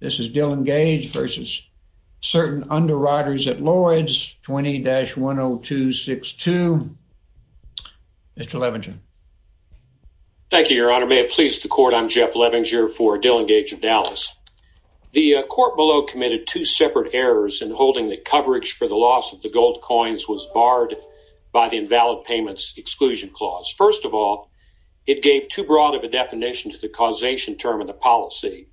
This is Dillon Gage v. Certain Underwriters at Lloyd's, 20-10262, Mr. Levingen. Thank you, Your Honor. May it please the Court, I'm Jeff Levingen for Dillon Gage of Dallas. The Court below committed two separate errors in holding that coverage for the loss of the gold coins was barred by the Invalid Payments Exclusion Clause. First of all, it gave too broad of a definition to the causation term of the policy,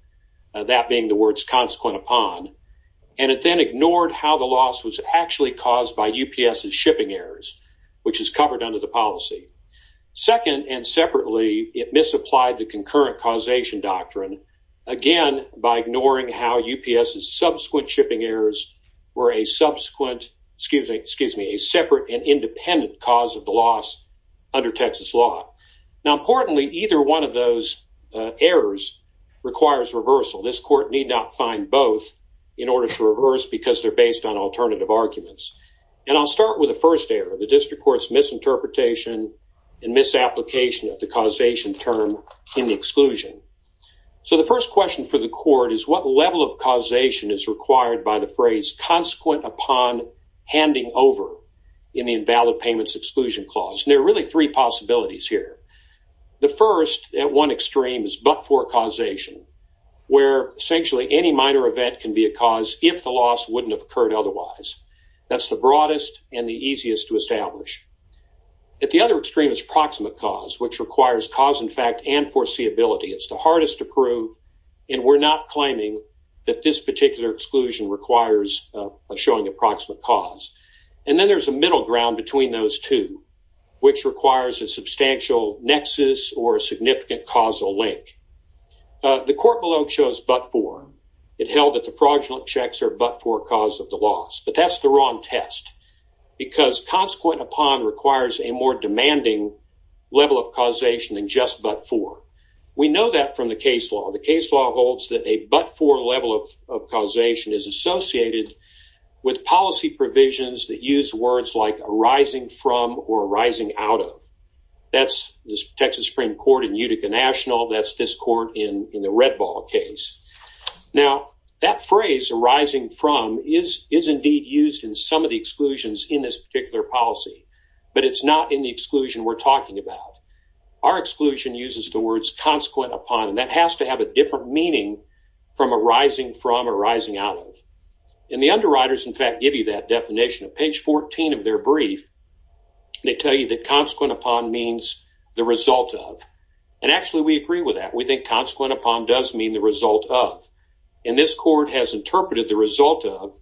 that being the words, consequent upon, and it then ignored how the loss was actually caused by UPS's shipping errors, which is covered under the policy. Second and separately, it misapplied the concurrent causation doctrine, again, by ignoring how UPS's subsequent shipping errors were a separate and independent cause of the loss under Texas law. Now, importantly, either one of those errors requires reversal. This Court need not find both in order to reverse because they're based on alternative arguments. I'll start with the first error, the District Court's misinterpretation and misapplication of the causation term in the exclusion. The first question for the Court is, what level of causation is required by the phrase consequent upon handing over in the Invalid Payments Exclusion Clause? There are really three possibilities here. The first, at one extreme, is but-for causation, where, essentially, any minor event can be a cause if the loss wouldn't have occurred otherwise. That's the broadest and the easiest to establish. At the other extreme is proximate cause, which requires cause-in-fact and foreseeability. It's the hardest to prove, and we're not claiming that this particular exclusion requires showing a proximate cause. Then there's a middle ground between those two, which requires a substantial nexus or a significant causal link. The Court below shows but-for. It held that the fraudulent checks are but-for cause of the loss, but that's the wrong test because consequent upon requires a more demanding level of causation than just but-for. We know that from the case law. The case law holds that a but-for level of causation is associated with policy provisions that use words like arising from or arising out of. That's the Texas Supreme Court in Utica National. That's this court in the Red Ball case. That phrase, arising from, is indeed used in some of the exclusions in this particular policy, but it's not in the exclusion we're talking about. Our exclusion uses the words consequent upon, and that has to have a different meaning from arising from or arising out of. The underwriters, in fact, give you that definition. Page 14 of their brief, they tell you that consequent upon means the result of, and actually we agree with that. We think consequent upon does mean the result of, and this court has interpreted the result of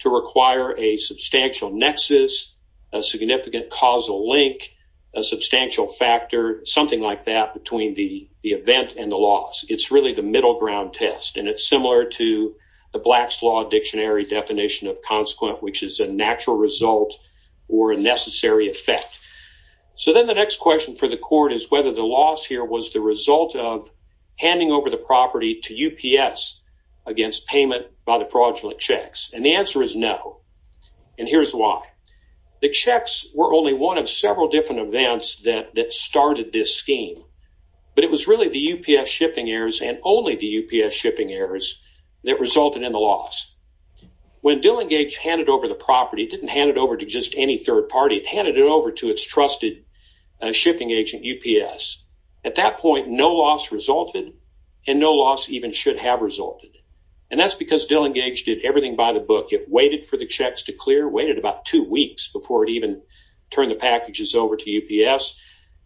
to require a substantial nexus, a significant causal link, a substantial factor, something like that between the event and the loss. It's really the middle ground test, and it's similar to the Black's Law Dictionary definition of consequent, which is a natural result or a necessary effect. So then the next question for the court is whether the loss here was the result of handing over the property to UPS against payment by the fraudulent checks, and the answer is no, and here's why. The checks were only one of several different events that started this scheme, but it was really the UPS shipping errors and only the UPS shipping errors that resulted in the loss. When Dillingage handed over the property, it didn't hand it over to just any third party. It handed it over to its trusted shipping agent, UPS. At that point, no loss resulted, and no loss even should have resulted, and that's because Dillingage did everything by the book. It waited for the checks to clear, waited about two weeks before it even turned the packages over to UPS.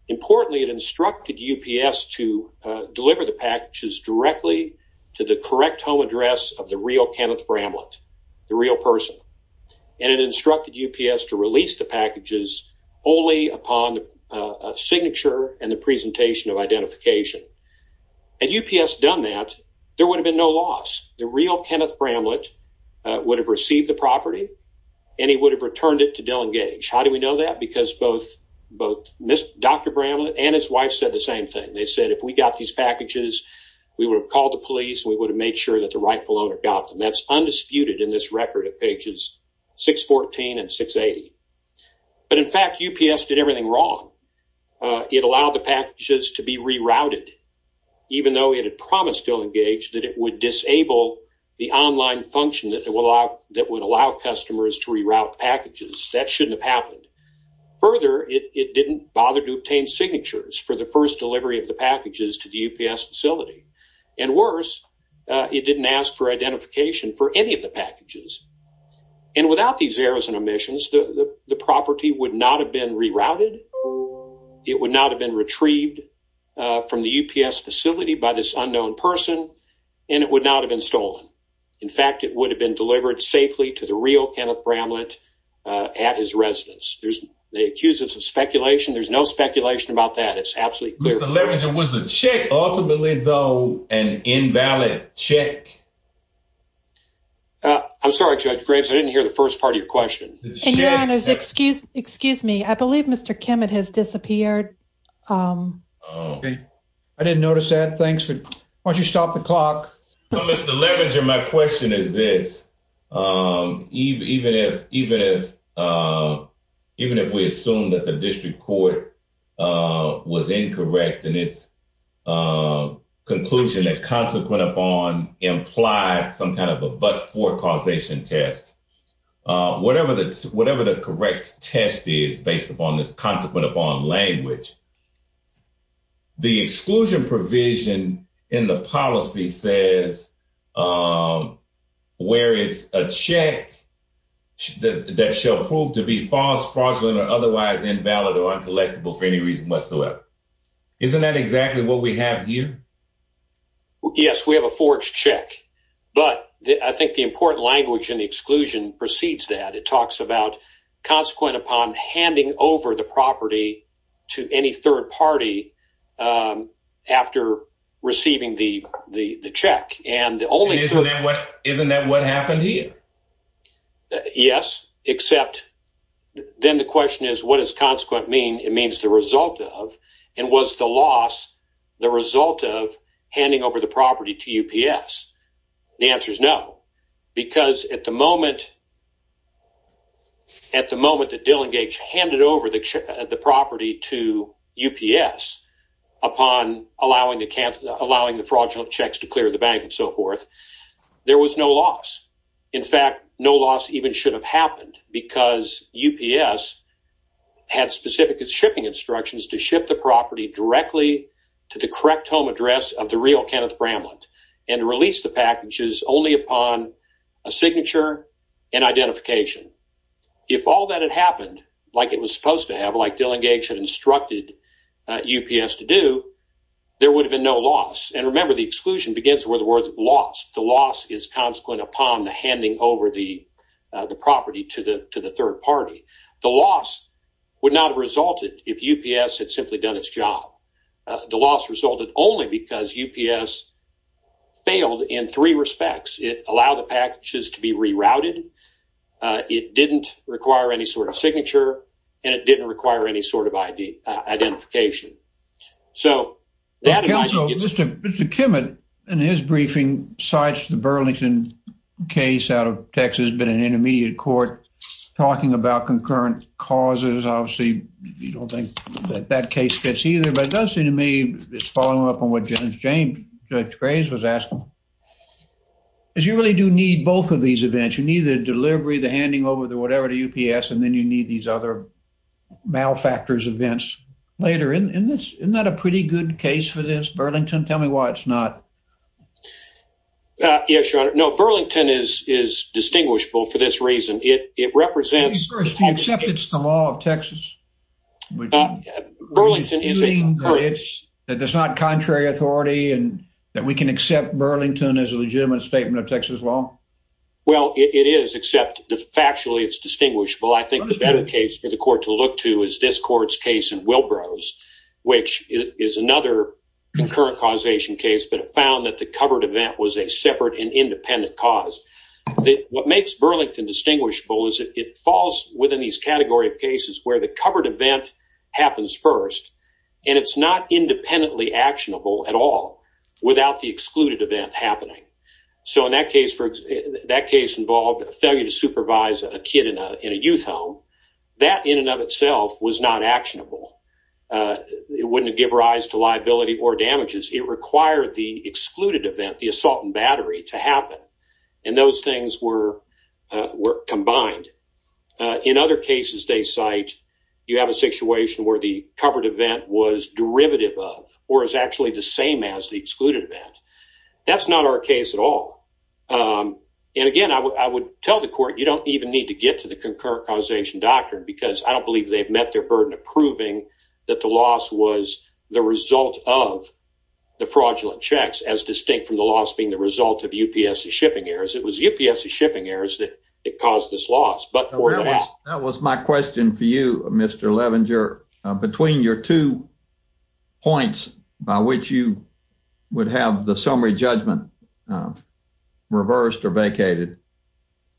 Importantly, it instructed UPS to deliver the packages directly to the correct home address of the real Kenneth Bramlett, the real person, and it instructed UPS to release the packages only upon a signature and the presentation of identification. Had UPS done that, there would have been no loss. The real Kenneth Bramlett would have received the property, and he would have returned it to Dillingage. How do we know that? Because both Dr. Bramlett and his wife said the same thing. They said, if we got these packages, we would have called the police, and we would have made sure that the rightful owner got them. That's undisputed in this record at pages 614 and 680. But in fact, UPS did everything wrong. It allowed the packages to be rerouted even though it had promised Dillingage that it would disable the online function that would allow customers to reroute packages. That shouldn't have happened. Further, it didn't bother to obtain signatures for the first delivery of the packages to the UPS facility. And worse, it didn't ask for identification for any of the packages. And without these errors and omissions, the property would not have been rerouted, it would not have been retrieved from the UPS facility by this unknown person, and it would not have been stolen. In fact, it would have been delivered safely to the real Kenneth Bramlett at his residence. They accuse us of speculation. There's no speculation about that. It's absolutely true. Mr. Levenger, was the check ultimately, though, an invalid check? I'm sorry, Judge Graves, I didn't hear the first part of your question. And your honors, excuse me, I believe Mr. Kimmett has disappeared. I didn't notice that. Why don't you stop the clock? No, Mr. Levenger, my question is this. Even if we assume that the district court was incorrect in its conclusion that consequent upon implied some kind of a but-for causation test, whatever the correct test is based upon this consequent upon language, the exclusion provision in the policy says where it's a fact that shall prove to be false, fraudulent, or otherwise invalid or uncollectible for any reason whatsoever. Isn't that exactly what we have here? Yes, we have a forged check. But I think the important language in the exclusion precedes that. It talks about consequent upon handing over the property to any third party after receiving the check. Isn't that what happened here? Yes, except then the question is what does consequent mean? It means the result of and was the loss the result of handing over the property to UPS. The answer is no, because at the moment that Dillingage handed over the property to UPS upon allowing the fraudulent checks to clear the bank and so forth, there was no loss. In fact, no loss even should have happened because UPS had specific shipping instructions to ship the property directly to the correct home address of the real Kenneth Bramlett and release the packages only upon a signature and identification. If all that had happened like it was supposed to have, like Dillingage had instructed UPS to do, there would have been no loss. And remember the exclusion begins with the word loss. The loss is consequent upon the handing over the property to the third party. The loss would not have resulted if UPS had simply done its job. The loss resulted only because UPS failed in three respects. It allowed the packages to be rerouted, it didn't require any sort of signature, and it didn't require any sort of identification. So, that might have been the case. Mr. Kimmett in his briefing cites the Burlington case out of Texas, been an intermediate court, talking about concurrent causes. Obviously, you don't think that that case gets either, but it does seem to me it's following up on what Judge James, Judge Graves was asking. As you really do need both of these events, you need the delivery, the handing over, the whatever to UPS, and then you need these other malfactors events later. Isn't that a pretty good case for this, Burlington? Tell me why it's not. Yes, Your Honor. No, Burlington is distinguishable for this reason. It represents the- Burlington is a- You mean that there's not contrary authority and that we can accept Burlington as a legitimate statement of Texas law? Well, it is, except factually it's distinguishable. I think the better case for the court to look to is this court's case in Wilbrow's, which is another concurrent causation case, but it found that the covered event was a separate and independent cause. What makes Burlington distinguishable is that it falls within these category of the covered event happens first, and it's not independently actionable at all without the excluded event happening. So in that case, that case involved a failure to supervise a kid in a youth home. That in and of itself was not actionable. It wouldn't give rise to liability or damages. It required the excluded event, the assault and battery, to happen. And those things were combined. In other cases they cite, you have a situation where the covered event was derivative of or is actually the same as the excluded event. That's not our case at all. And again, I would tell the court you don't even need to get to the concurrent causation doctrine because I don't believe they've met their burden of proving that the loss was the result of the fraudulent checks, as distinct from the loss being the result of UPS's shipping errors. It was UPS's shipping errors that caused this loss. But for that. That was my question for you, Mr. Levenger. Between your two points by which you would have the summary judgment reversed or vacated,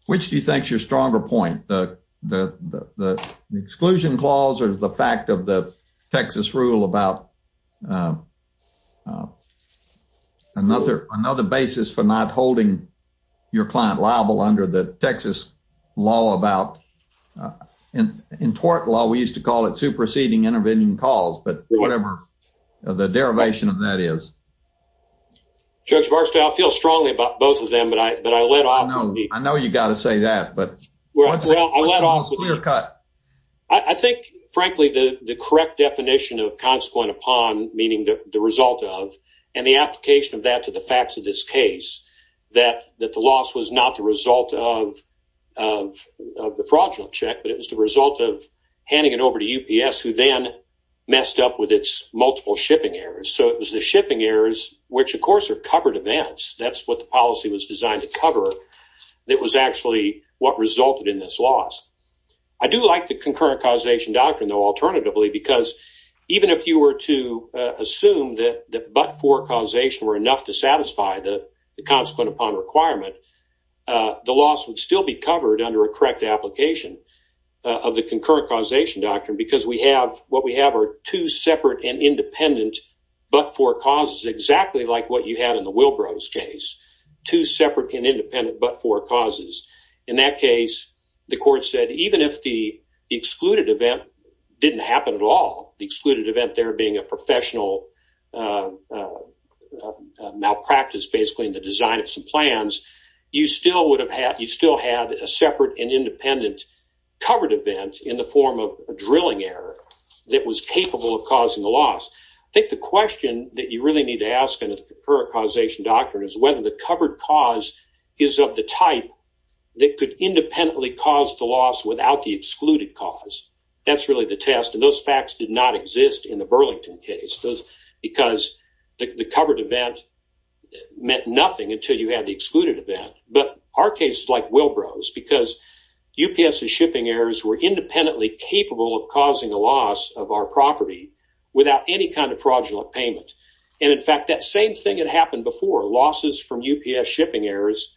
which do you think is your stronger point, the exclusion clause or the fact of the Texas rule about another basis for not holding your client liable under the Texas law about, in tort law, we used to call it superseding intervening cause, but whatever the derivation of that is. Judge Barksdale, I feel strongly about both of them, but I let off with each. I know you've got to say that, but what's Shaw's clear cut? I think, frankly, the correct definition of consequent upon, meaning the result of and the application of that to the facts of this case, that the loss was not the result of the fraudulent check, but it was the result of handing it over to UPS, who then messed up with its multiple shipping errors. So it was the shipping errors, which, of course, are covered events. That's what the policy was designed to cover. That was actually what resulted in this loss. I do like the concurrent causation doctrine, though, alternatively, because even if you were to assume that but-for causation were enough to satisfy the consequent upon requirement, the loss would still be covered under a correct application of the concurrent causation doctrine, because what we have are two separate and independent but-for causes, exactly like what you had in the Wilbrose case, two separate and independent but-for causes. In that case, the court said even if the excluded event didn't happen at all, the excluded event there being a professional malpractice, basically, in the design of some plans, you still have a separate and independent covered event in the form of a drilling error that was capable of causing the loss. I think the question that you really need to ask in the concurrent causation doctrine is whether the covered cause is of the type that could independently cause the loss without the excluded cause. That's really the test, and those facts did not exist in the Burlington case, because the covered event meant nothing until you had the excluded event. But our case is like Wilbrose, because UPS's shipping errors were independently capable of causing a loss of our property without any kind of fraudulent payment. In fact, that same thing had happened before, losses from UPS shipping errors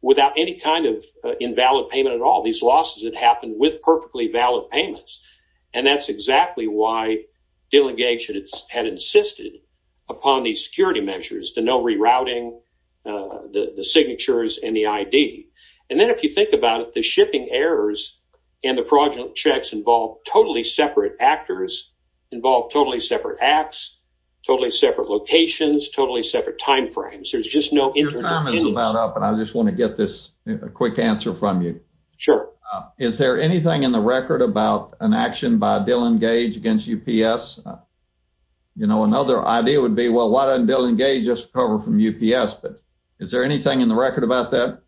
without any kind of invalid payment at all. These losses had happened with perfectly valid payments, and that's exactly why delegations had insisted upon these security measures, the no rerouting, the signatures, and the ID. And then if you think about it, the shipping errors and the fraudulent checks involved totally separate actors, involved totally separate acts, totally separate locations, totally separate timeframes. There's just no internal evidence. Your time is about up, and I just want to get this quick answer from you. Sure. Is there anything in the record about an action by Dillon Gage against UPS? You know, another idea would be, well, why doesn't Dillon Gage just recover from UPS? But is there anything in the record about that?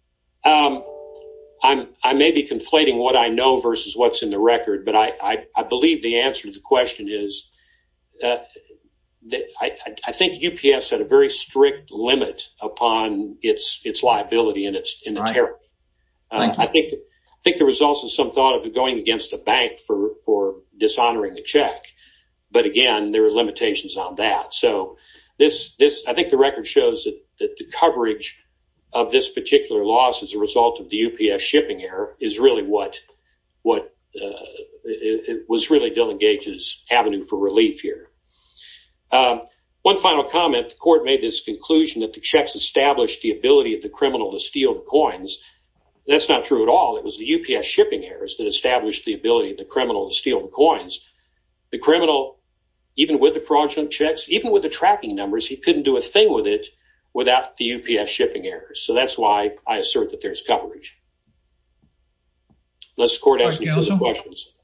I may be conflating what I know versus what's in the record, but I believe the answer to the question is I think UPS had a very strict limit upon its liability and its tariff. I think there was also some thought of it going against the bank for dishonoring the check, but again, there are limitations on that. So I think the record shows that the coverage of this particular loss as a result of the UPS shipping error is really what was really Dillon Gage's avenue for relief here. One final comment, the court made this conclusion that the checks established the ability of the criminal to steal the coins. That's not true at all. It was the UPS shipping errors that established the ability of the criminal to steal the coins. The criminal, even with the fraudulent checks, even with the tracking numbers, he couldn't do a thing with it without the UPS shipping errors. So that's why I assert that there's coverage. Let's go to the questions.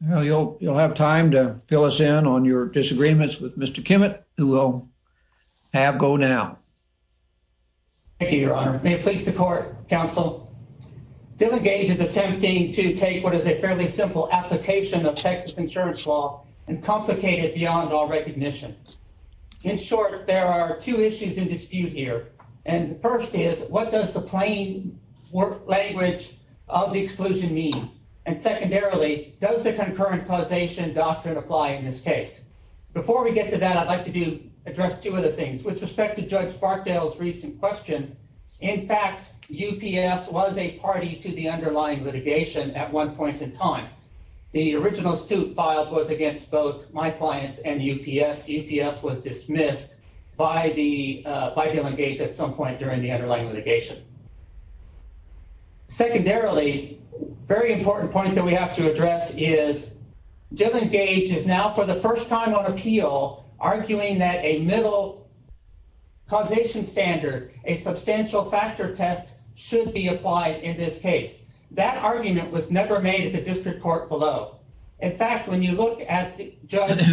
You'll have time to fill us in on your disagreements with Mr. Kimmett, who will have go now. Thank you, Your Honor. May it please the court, counsel. Dillon Gage is attempting to take what is a fairly simple application of Texas insurance law and complicate it beyond all recognition. In short, there are two issues in dispute here. And first is what does the plain language of the exclusion mean? And secondarily, does the concurrent causation doctrine apply in this case? Before we get to that, I'd like to do address two of the things with respect to Judge Sparkdale's recent question. In fact, UPS was a party to the underlying litigation at one point in time. The original suit filed was against both my clients and UPS. UPS was dismissed by the by Dillon Gage at some point during the underlying litigation. Secondarily, very important point that we have to address is Dillon Gage is now for the first time on appeal, arguing that a middle. Causation standard, a substantial factor test should be applied in this case. That argument was never made at the district court below. In fact, when you look at Judge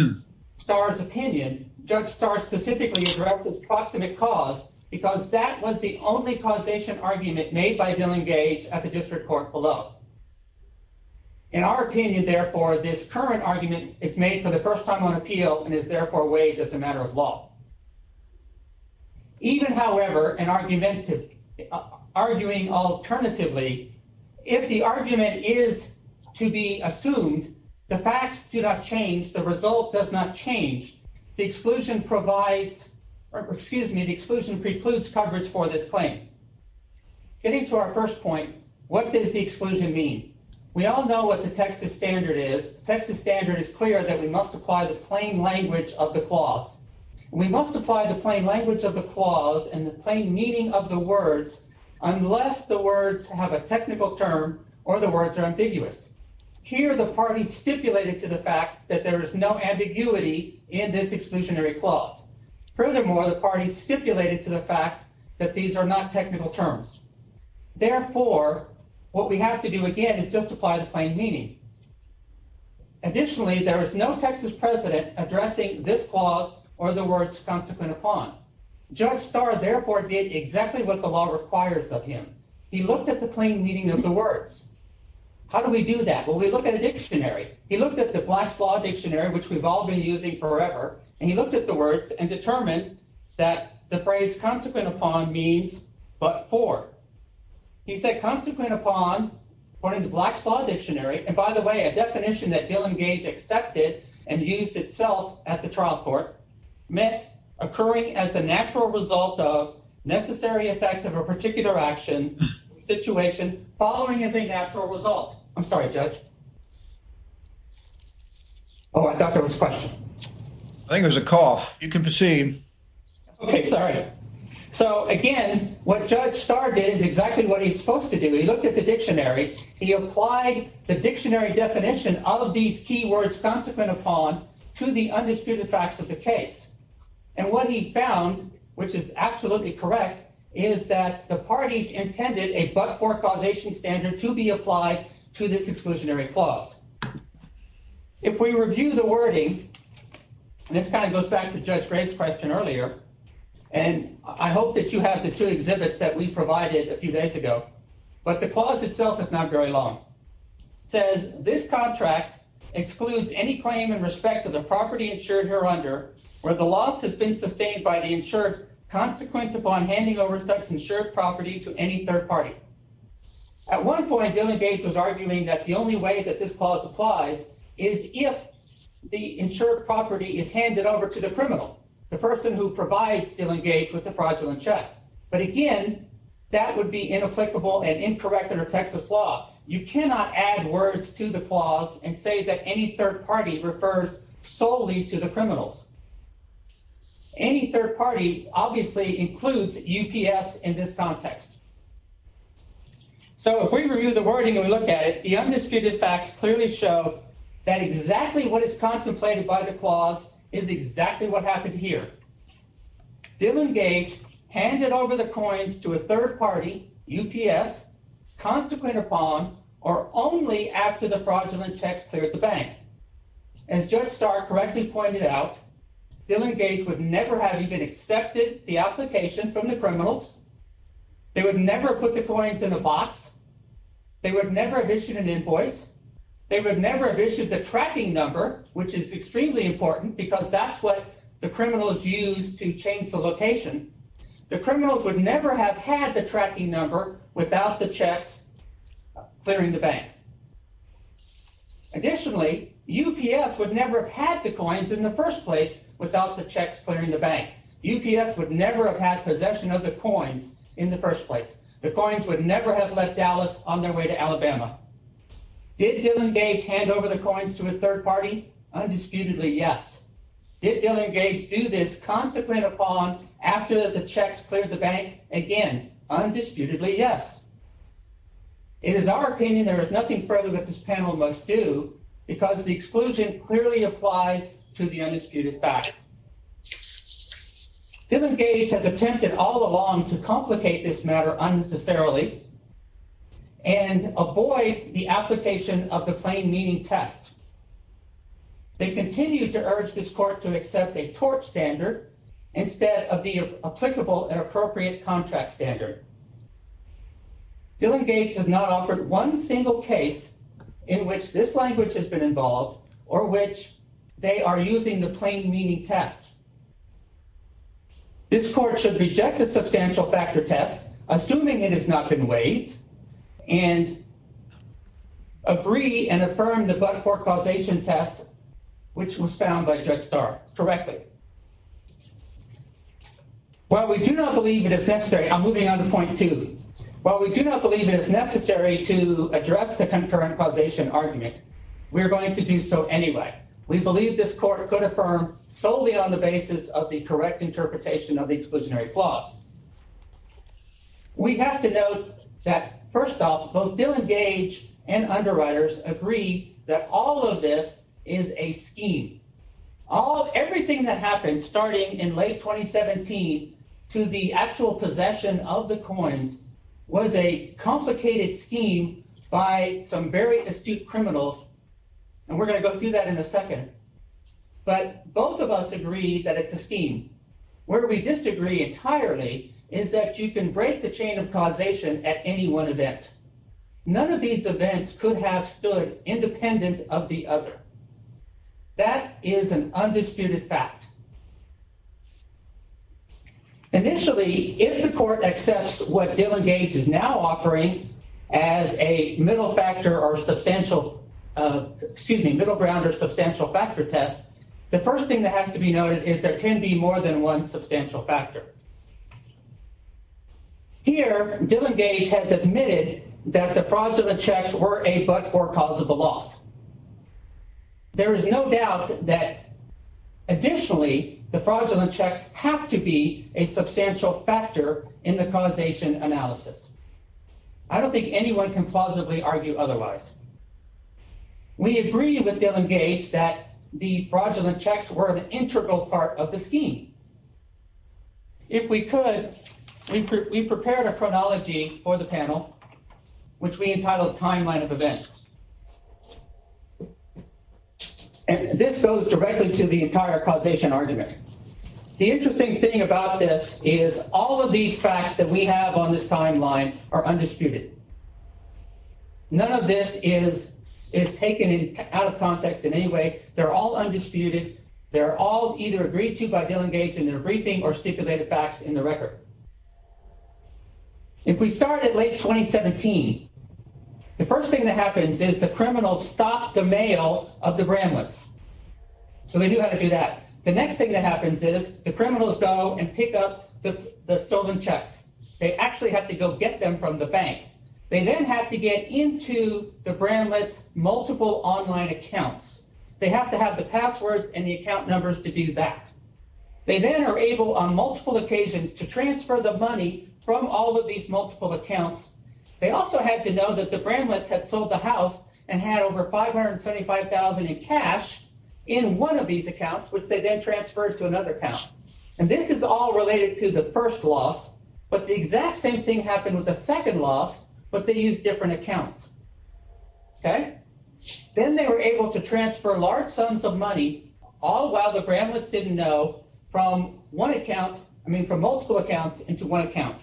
Star's opinion, Judge Star specifically addresses proximate cause because that was the only causation argument made by Dillon Gage at the district court below. In our opinion, therefore, this current argument is made for the first time on appeal and is therefore weighed as a matter of law. Even, however, an argument of arguing alternatively, if the argument is to be assumed, the facts do not change, the result does not change, the exclusion provides, or excuse me, the exclusion precludes coverage for this claim. Getting to our first point, what does the exclusion mean? We all know what the Texas standard is. The Texas standard is clear that we must apply the plain language of the clause. We must apply the plain language of the clause and the plain meaning of the words unless the words have a technical term or the words are ambiguous. Here, the party stipulated to the fact that there is no ambiguity in this exclusionary clause. Furthermore, the party stipulated to the fact that these are not technical terms. Therefore, what we have to do again is just apply the plain meaning. Additionally, there is no Texas president addressing this clause or the words consequent upon. Judge Starr, therefore, did exactly what the law requires of him. He looked at the plain meaning of the words. How do we do that? Well, we look at a dictionary. He looked at the Black's Law Dictionary, which we've all been using forever, and he looked at the words and determined that the phrase consequent upon means but for. He said consequent upon, according to Black's Law Dictionary, and by the way, a definition that Dillon Gage accepted and used itself at the trial court meant occurring as the natural result of necessary effect of a particular action situation following as a natural result. I'm sorry, Judge. Oh, I thought there was a question. I think there's a cough. You can proceed. Okay, sorry. So again, what Judge Starr did is exactly what he's supposed to do. He looked at the dictionary. He applied the dictionary definition of these key words consequent upon to the undisputed facts of the case. And what he found, which is absolutely correct, is that the parties intended a but-for causation standard to be applied to this exclusionary clause. If we review the wording, and this kind of goes back to Judge Gray's question earlier, and I hope that you have the two exhibits that we provided a few days ago, but the clause itself is not very long. It says, this contract excludes any claim in respect of the property insured hereunder where the loss has been sustained by the insured consequent upon handing over such insured property to any third party. At one point, Dillon Gage was arguing that the only way that this clause applies is if the insured property is handed over to the criminal, the person who provides Dillon Gage with the fraudulent check. But again, that would be inapplicable and incorrect under Texas law. You cannot add words to the clause and say that any third party refers solely to the criminals. Any third party obviously includes UPS in this context. So if we review the wording and we look at it, the undisputed facts clearly show that exactly what is contemplated by the clause is exactly what happened here. Dillon Gage handed over the coins to a third party, UPS, consequent upon, or only after the fraudulent checks cleared the bank. As Judge Starr correctly pointed out, Dillon Gage would never have even accepted the application from the criminals. They would never put the coins in a box. They would never have issued an invoice. They would never have issued the tracking number, which is extremely important, because that's what the criminals use to change the location. The criminals would never have had the tracking number without the checks clearing the bank. Additionally, UPS would never have had the coins in the first place without the checks clearing the bank. UPS would never have had possession of the coins in the first place. The coins would never have left Dallas on their way to Alabama. Did Dillon Gage hand over the coins to a third party? Undisputedly, yes. Did Dillon Gage do this consequent upon after the checks cleared the bank? Again, undisputedly, yes. It is our opinion there is nothing further that this panel must do, because the exclusion clearly applies to the undisputed fact. Dillon Gage has attempted all along to complicate this matter unnecessarily and avoid the application of the plain meaning test. They continue to urge this court to accept a torch standard instead of the applicable and appropriate contract standard. Dillon Gage has not offered one single case in which this language has been involved or which they are using the plain meaning test. This court should reject the substantial factor test, assuming it has not been waived, and agree and affirm the but-for causation test, which was found by Judge Starr correctly. While we do not believe it is necessary, I'm moving on to point two. While we do not believe it is necessary to address the concurrent causation argument, we are going to do so anyway. We believe this court could affirm solely on the basis of the correct interpretation of the exclusionary clause. We have to note that, first off, both Dillon Gage and underwriters agree that all of this is a scheme. Everything that happened starting in late 2017 to the actual possession of the coins was a complicated scheme by some very astute criminals, and we're going to go through that in a second. But both of us agree that it's a scheme. Where we disagree entirely is that you can break the chain of causation at any one event. None of these events could have stood independent of the other. That is an undisputed fact. Initially, if the court accepts what Dillon Gage is now offering as a middle factor or substantial, excuse me, middle ground or substantial factor test, the first thing that has to be noted is there can be more than one substantial factor. Here, Dillon Gage has admitted that the fraudulent checks were a but-for cause of the loss. There is no doubt that, additionally, the fraudulent checks have to be a substantial factor in the causation analysis. I don't think anyone can plausibly argue otherwise. We agree with Dillon Gage that the fraudulent checks were an integral part of the scheme. If we could, we prepared a chronology for the panel, which we entitled Timeline of Events. And this goes directly to the entire causation argument. The interesting thing about this is all of these facts that we have on this timeline are undisputed. None of this is taken out of context in any way. They're all undisputed. They're all either agreed to by Dillon Gage in their briefing or stipulated facts in the record. If we start at late 2017, the first thing that happens is the criminals stop the mail of the Bramlets. So they do have to do that. The next thing that happens is the criminals go and pick up the stolen checks. They actually have to go get them from the bank. They then have to get into the Bramlets' multiple online accounts. They have to have the passwords and the account numbers to do that. They then are able, on multiple occasions, to transfer the money from all of these multiple accounts. They also had to know that the Bramlets had sold the house and had over $575,000 in cash in one of these accounts, which they then transferred to another account. And this is all related to the first loss. But the exact same thing happened with the second loss, but they used different accounts. Then they were able to transfer large sums of money, all while the Bramlets didn't know, from one account, I mean from multiple accounts, into one account.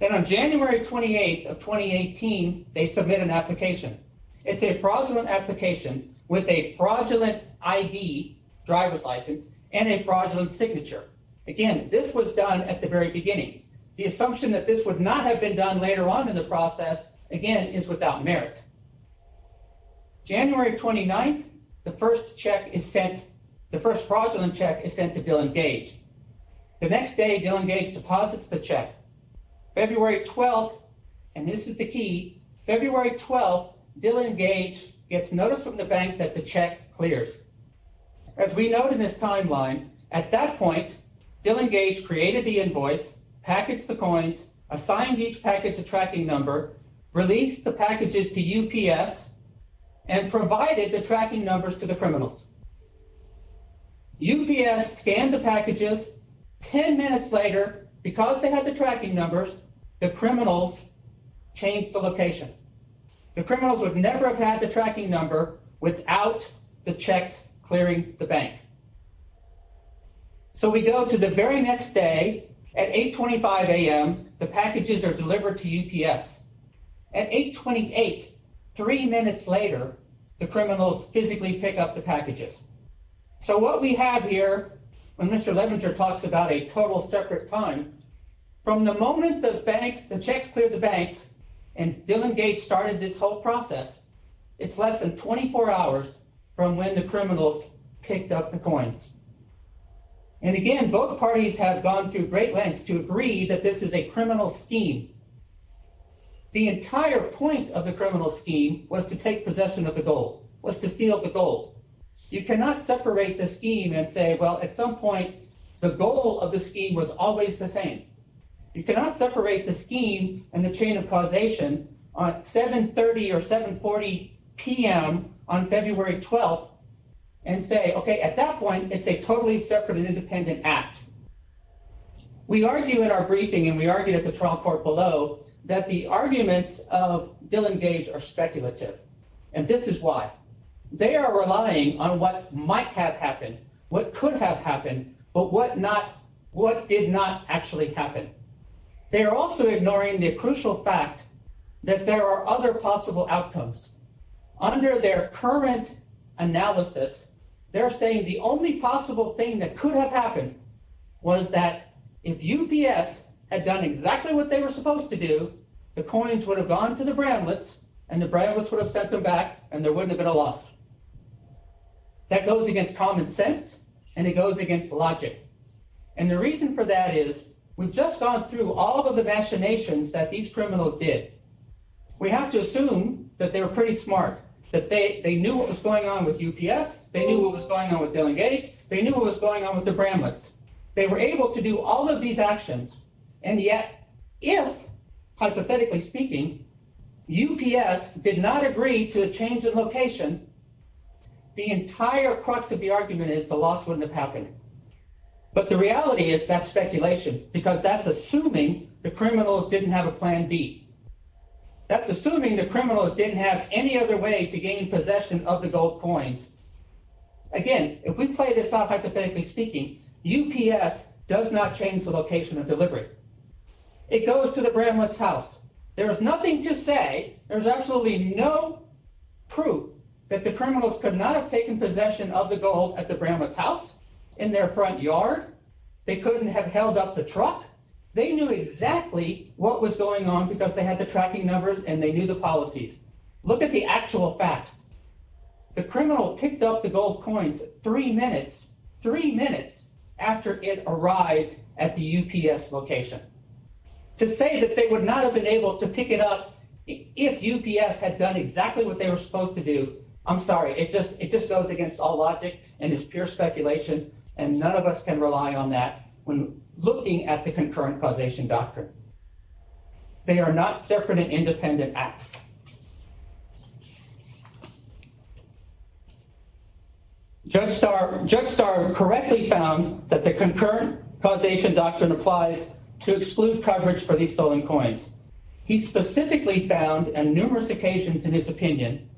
Then on January 28th of 2018, they submit an application. It's a fraudulent application with a fraudulent ID, driver's license, and a fraudulent signature. Again, this was done at the very beginning. The assumption that this would not have been done later on in the process, again, is without merit. January 29th, the first fraudulent check is sent to Dillon Gage. The next day, Dillon Gage deposits the check. February 12th, and this is the key, February 12th, Dillon Gage gets notice from the bank that the check clears. As we note in this timeline, at that point, Dillon Gage created the invoice, packaged the coins, assigned each package a tracking number, released the packages to UPS, and provided the tracking numbers to the criminals. UPS scanned the packages, 10 minutes later, because they had the tracking numbers, the criminals changed the location. The criminals would never have had the tracking number without the checks clearing the bank. So we go to the very next day, at 8.25 a.m., the packages are delivered to UPS. At 8.28, three minutes later, the criminals physically pick up the packages. So what we have here, when Mr. Levenger talks about a total separate time, from the moment the checks cleared the banks and Dillon Gage started this whole process, it's less than 24 hours from when the criminals picked up the coins. And again, both parties have gone through great lengths to agree that this is a criminal scheme. The entire point of the criminal scheme was to take possession of the gold, was to steal the gold. You cannot separate the scheme and say, well, at some point, the goal of the scheme was always the same. You cannot separate the scheme and the chain of causation on 7.30 or 7.40 p.m. on February 12th and say, okay, at that point, it's a totally separate and independent act. We argue in our briefing, and we argue at the trial court below, that the arguments of Dillon Gage are speculative. And this is why. They are relying on what might have happened, what could have happened, but what did not actually happen. They are also ignoring the crucial fact that there are other possible outcomes. Under their current analysis, they're saying the only possible thing that could have happened was that if UPS had done exactly what they were supposed to do, the coins would have gone to the Bramlets, and the Bramlets would have sent them back, and there wouldn't have been a loss. That goes against common sense, and it goes against logic. And the reason for that is we've just gone through all of the machinations that these criminals did. We have to assume that they were pretty smart, that they knew what was going on with UPS, they knew what was going on with Dillon Gage, they knew what was going on with the Bramlets. They were able to do all of these actions, and yet, if, hypothetically speaking, UPS did not agree to a change in location, the entire crux of the argument is the loss wouldn't have happened. But the reality is that's speculation, because that's assuming the criminals didn't have a plan B. That's assuming the criminals didn't have any other way to gain possession of the gold coins. Again, if we play this off, hypothetically speaking, UPS does not change the location of delivery. It goes to the Bramlets' house. There is nothing to say, there is absolutely no proof that the criminals could not have gained possession of the gold at the Bramlets' house in their front yard. They couldn't have held up the truck. They knew exactly what was going on because they had the tracking numbers and they knew the policies. Look at the actual facts. The criminal picked up the gold coins three minutes, three minutes after it arrived at the UPS location. To say that they would not have been able to pick it up if UPS had done exactly what they were supposed to do, I'm sorry. It just goes against all logic and is pure speculation, and none of us can rely on that when looking at the concurrent causation doctrine. They are not separate and independent acts. Judge Starr correctly found that the concurrent causation doctrine applies to exclude coverage for these stolen coins. He specifically found on numerous occasions in his opinion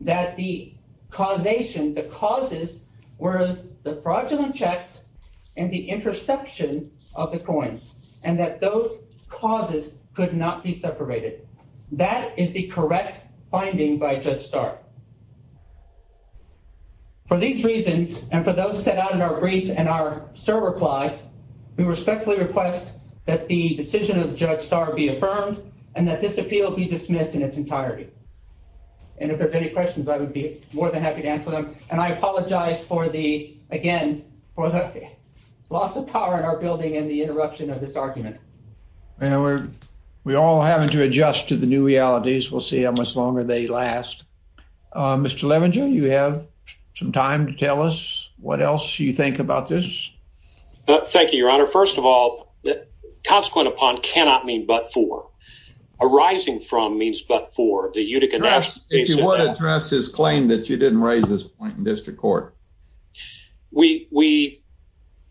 that the causation, the causes were the fraudulent checks and the interception of the coins, and that those causes could not be separated. That is the correct finding by Judge Starr. For these reasons, and for those set out in our brief and our SIR reply, we respectfully request that the decision of Judge Starr be affirmed and that this appeal be dismissed in its entirety. And if there's any questions, I would be more than happy to answer them. And I apologize for the, again, for the loss of power in our building and the interruption of this argument. And we're all having to adjust to the new realities. We'll see how much longer they last. Mr. Levenger, you have some time to tell us what else you think about this. Thank you, Your Honor. First of all, consequent upon cannot mean but for. Arising from means but for. If you would address his claim that you didn't raise this point in district court. We,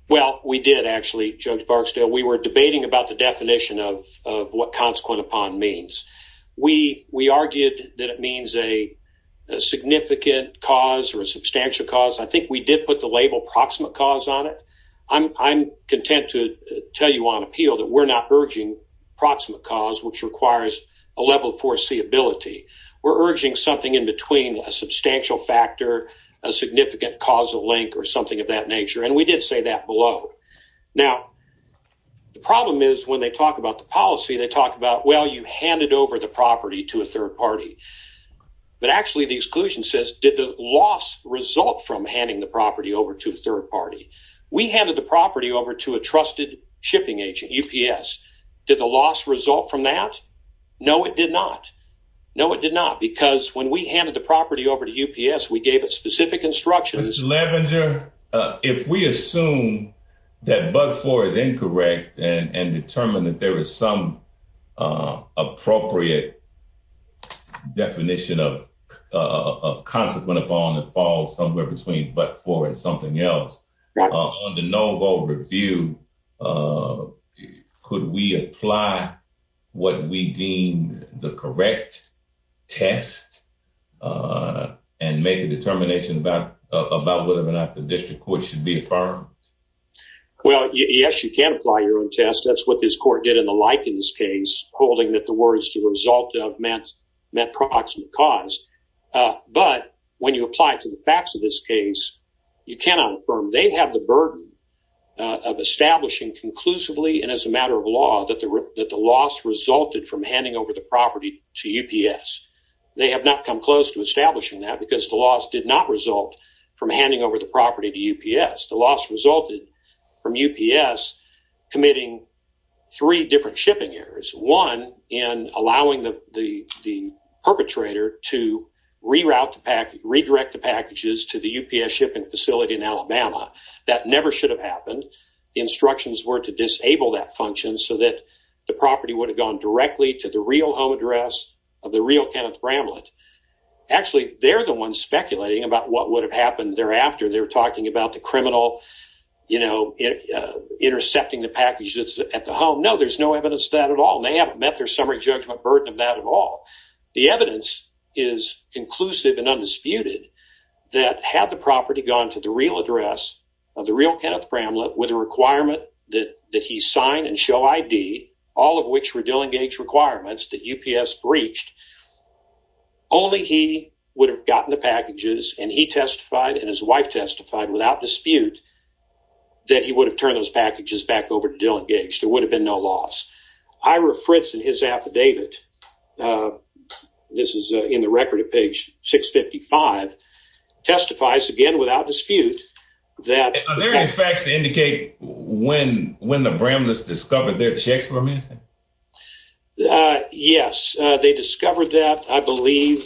well, we did actually, Judge Barksdale. We were debating about the definition of what consequent upon means. We argued that it means a significant cause or a substantial cause. I think we did put the label proximate cause on it. I'm content to tell you on appeal that we're not urging proximate cause, which requires a level of foreseeability. We're urging something in between a substantial factor, a significant causal link or something of that nature. And we did say that below. Now, the problem is when they talk about the policy, they talk about, well, you handed over the property to a third party. But actually, the exclusion says, did the loss result from handing the property over to a third party? We handed the property over to a trusted shipping agent, UPS. Did the loss result from that? No, it did not. No, it did not. Because when we handed the property over to UPS, we gave it specific instructions. Mr. Lavenger, if we assume that but for is incorrect and determine that there is some appropriate definition of consequent upon that falls somewhere between but for and something else on the no vote review, could we apply what we deem the correct test and make a determination about whether or not the district court should be affirmed? Well, yes, you can apply your own test. That's what this court did in the Likens case, holding that the words to result of meant proximate cause. But when you apply to the facts of this case, you cannot affirm. They have the burden of establishing conclusively and as a matter of law that the loss resulted from handing over the property to UPS. They have not come close to establishing that because the loss did not result from handing over the property to UPS. The loss resulted from UPS committing three different shipping errors. One, in allowing the perpetrator to redirect the packages to the UPS shipping facility in Alabama. That never should have happened. The instructions were to disable that function so that the property would have gone directly to the real home address of the real Kenneth Bramlett. Actually, they're the ones speculating about what would have happened thereafter. They're talking about the criminal intercepting the packages at the home. No, there's no evidence of that at all. They haven't met their summary judgment burden of that at all. The evidence is conclusive and undisputed that had the property gone to the real address of the real Kenneth Bramlett with a requirement that he sign and show ID, all of which were Dillon Gage requirements that UPS breached, only he would have gotten the packages and he testified and his wife testified without dispute that he would have turned those packages back over to Dillon Gage. There would have been no loss. Ira Fritz and his affidavit, this is in the record at page 655, testifies again without dispute that- Are there any facts to indicate when the Bramlett's discovered their checks were missing? Yes, they discovered that. I believe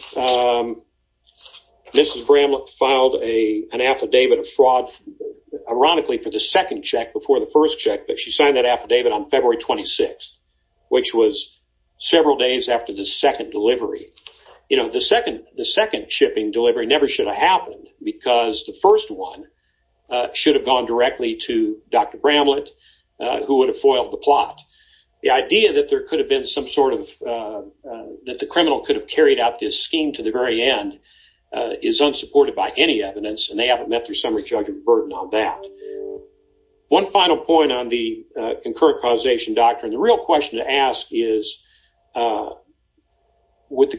Mrs. Bramlett filed an affidavit of fraud, ironically, for the second check but she signed that affidavit on February 26th, which was several days after the second delivery. The second shipping delivery never should have happened because the first one should have gone directly to Dr. Bramlett who would have foiled the plot. The idea that the criminal could have carried out this scheme to the very end is unsupported by any evidence and they haven't met their summary judgment burden on that. One final point on the concurrent causation doctrine. The real question to ask is was the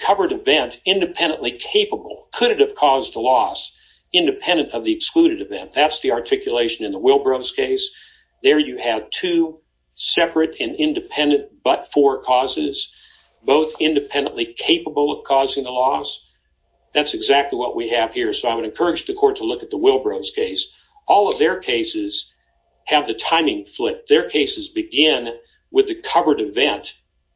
covered event independently capable? Could it have caused a loss independent of the excluded event? That's the articulation in the Wilbro's case. There you have two separate and independent but-for causes, both independently capable of causing a loss. That's exactly what we have here. I would encourage the court to look at the Wilbro's case. All of their cases have the timing flipped. Their cases begin with the covered event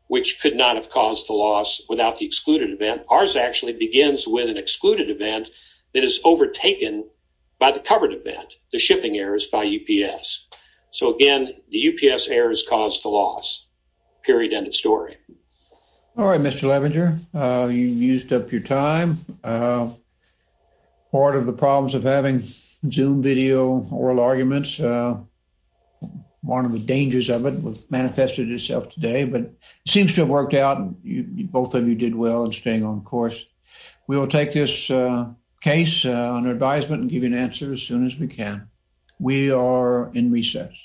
which could not have caused the loss without the excluded event. Ours actually begins with an excluded event that is overtaken by the covered event, the shipping errors by UPS. So again, the UPS errors caused the loss, period, end of story. All right, Mr. Levenger. You used up your time. Part of the problems of having Zoom video oral arguments, one of the dangers of it has manifested itself today, but it seems to have worked out. Both of you did well in staying on course. We will take this case under advisement and give you an answer as soon as we can. We are in recess.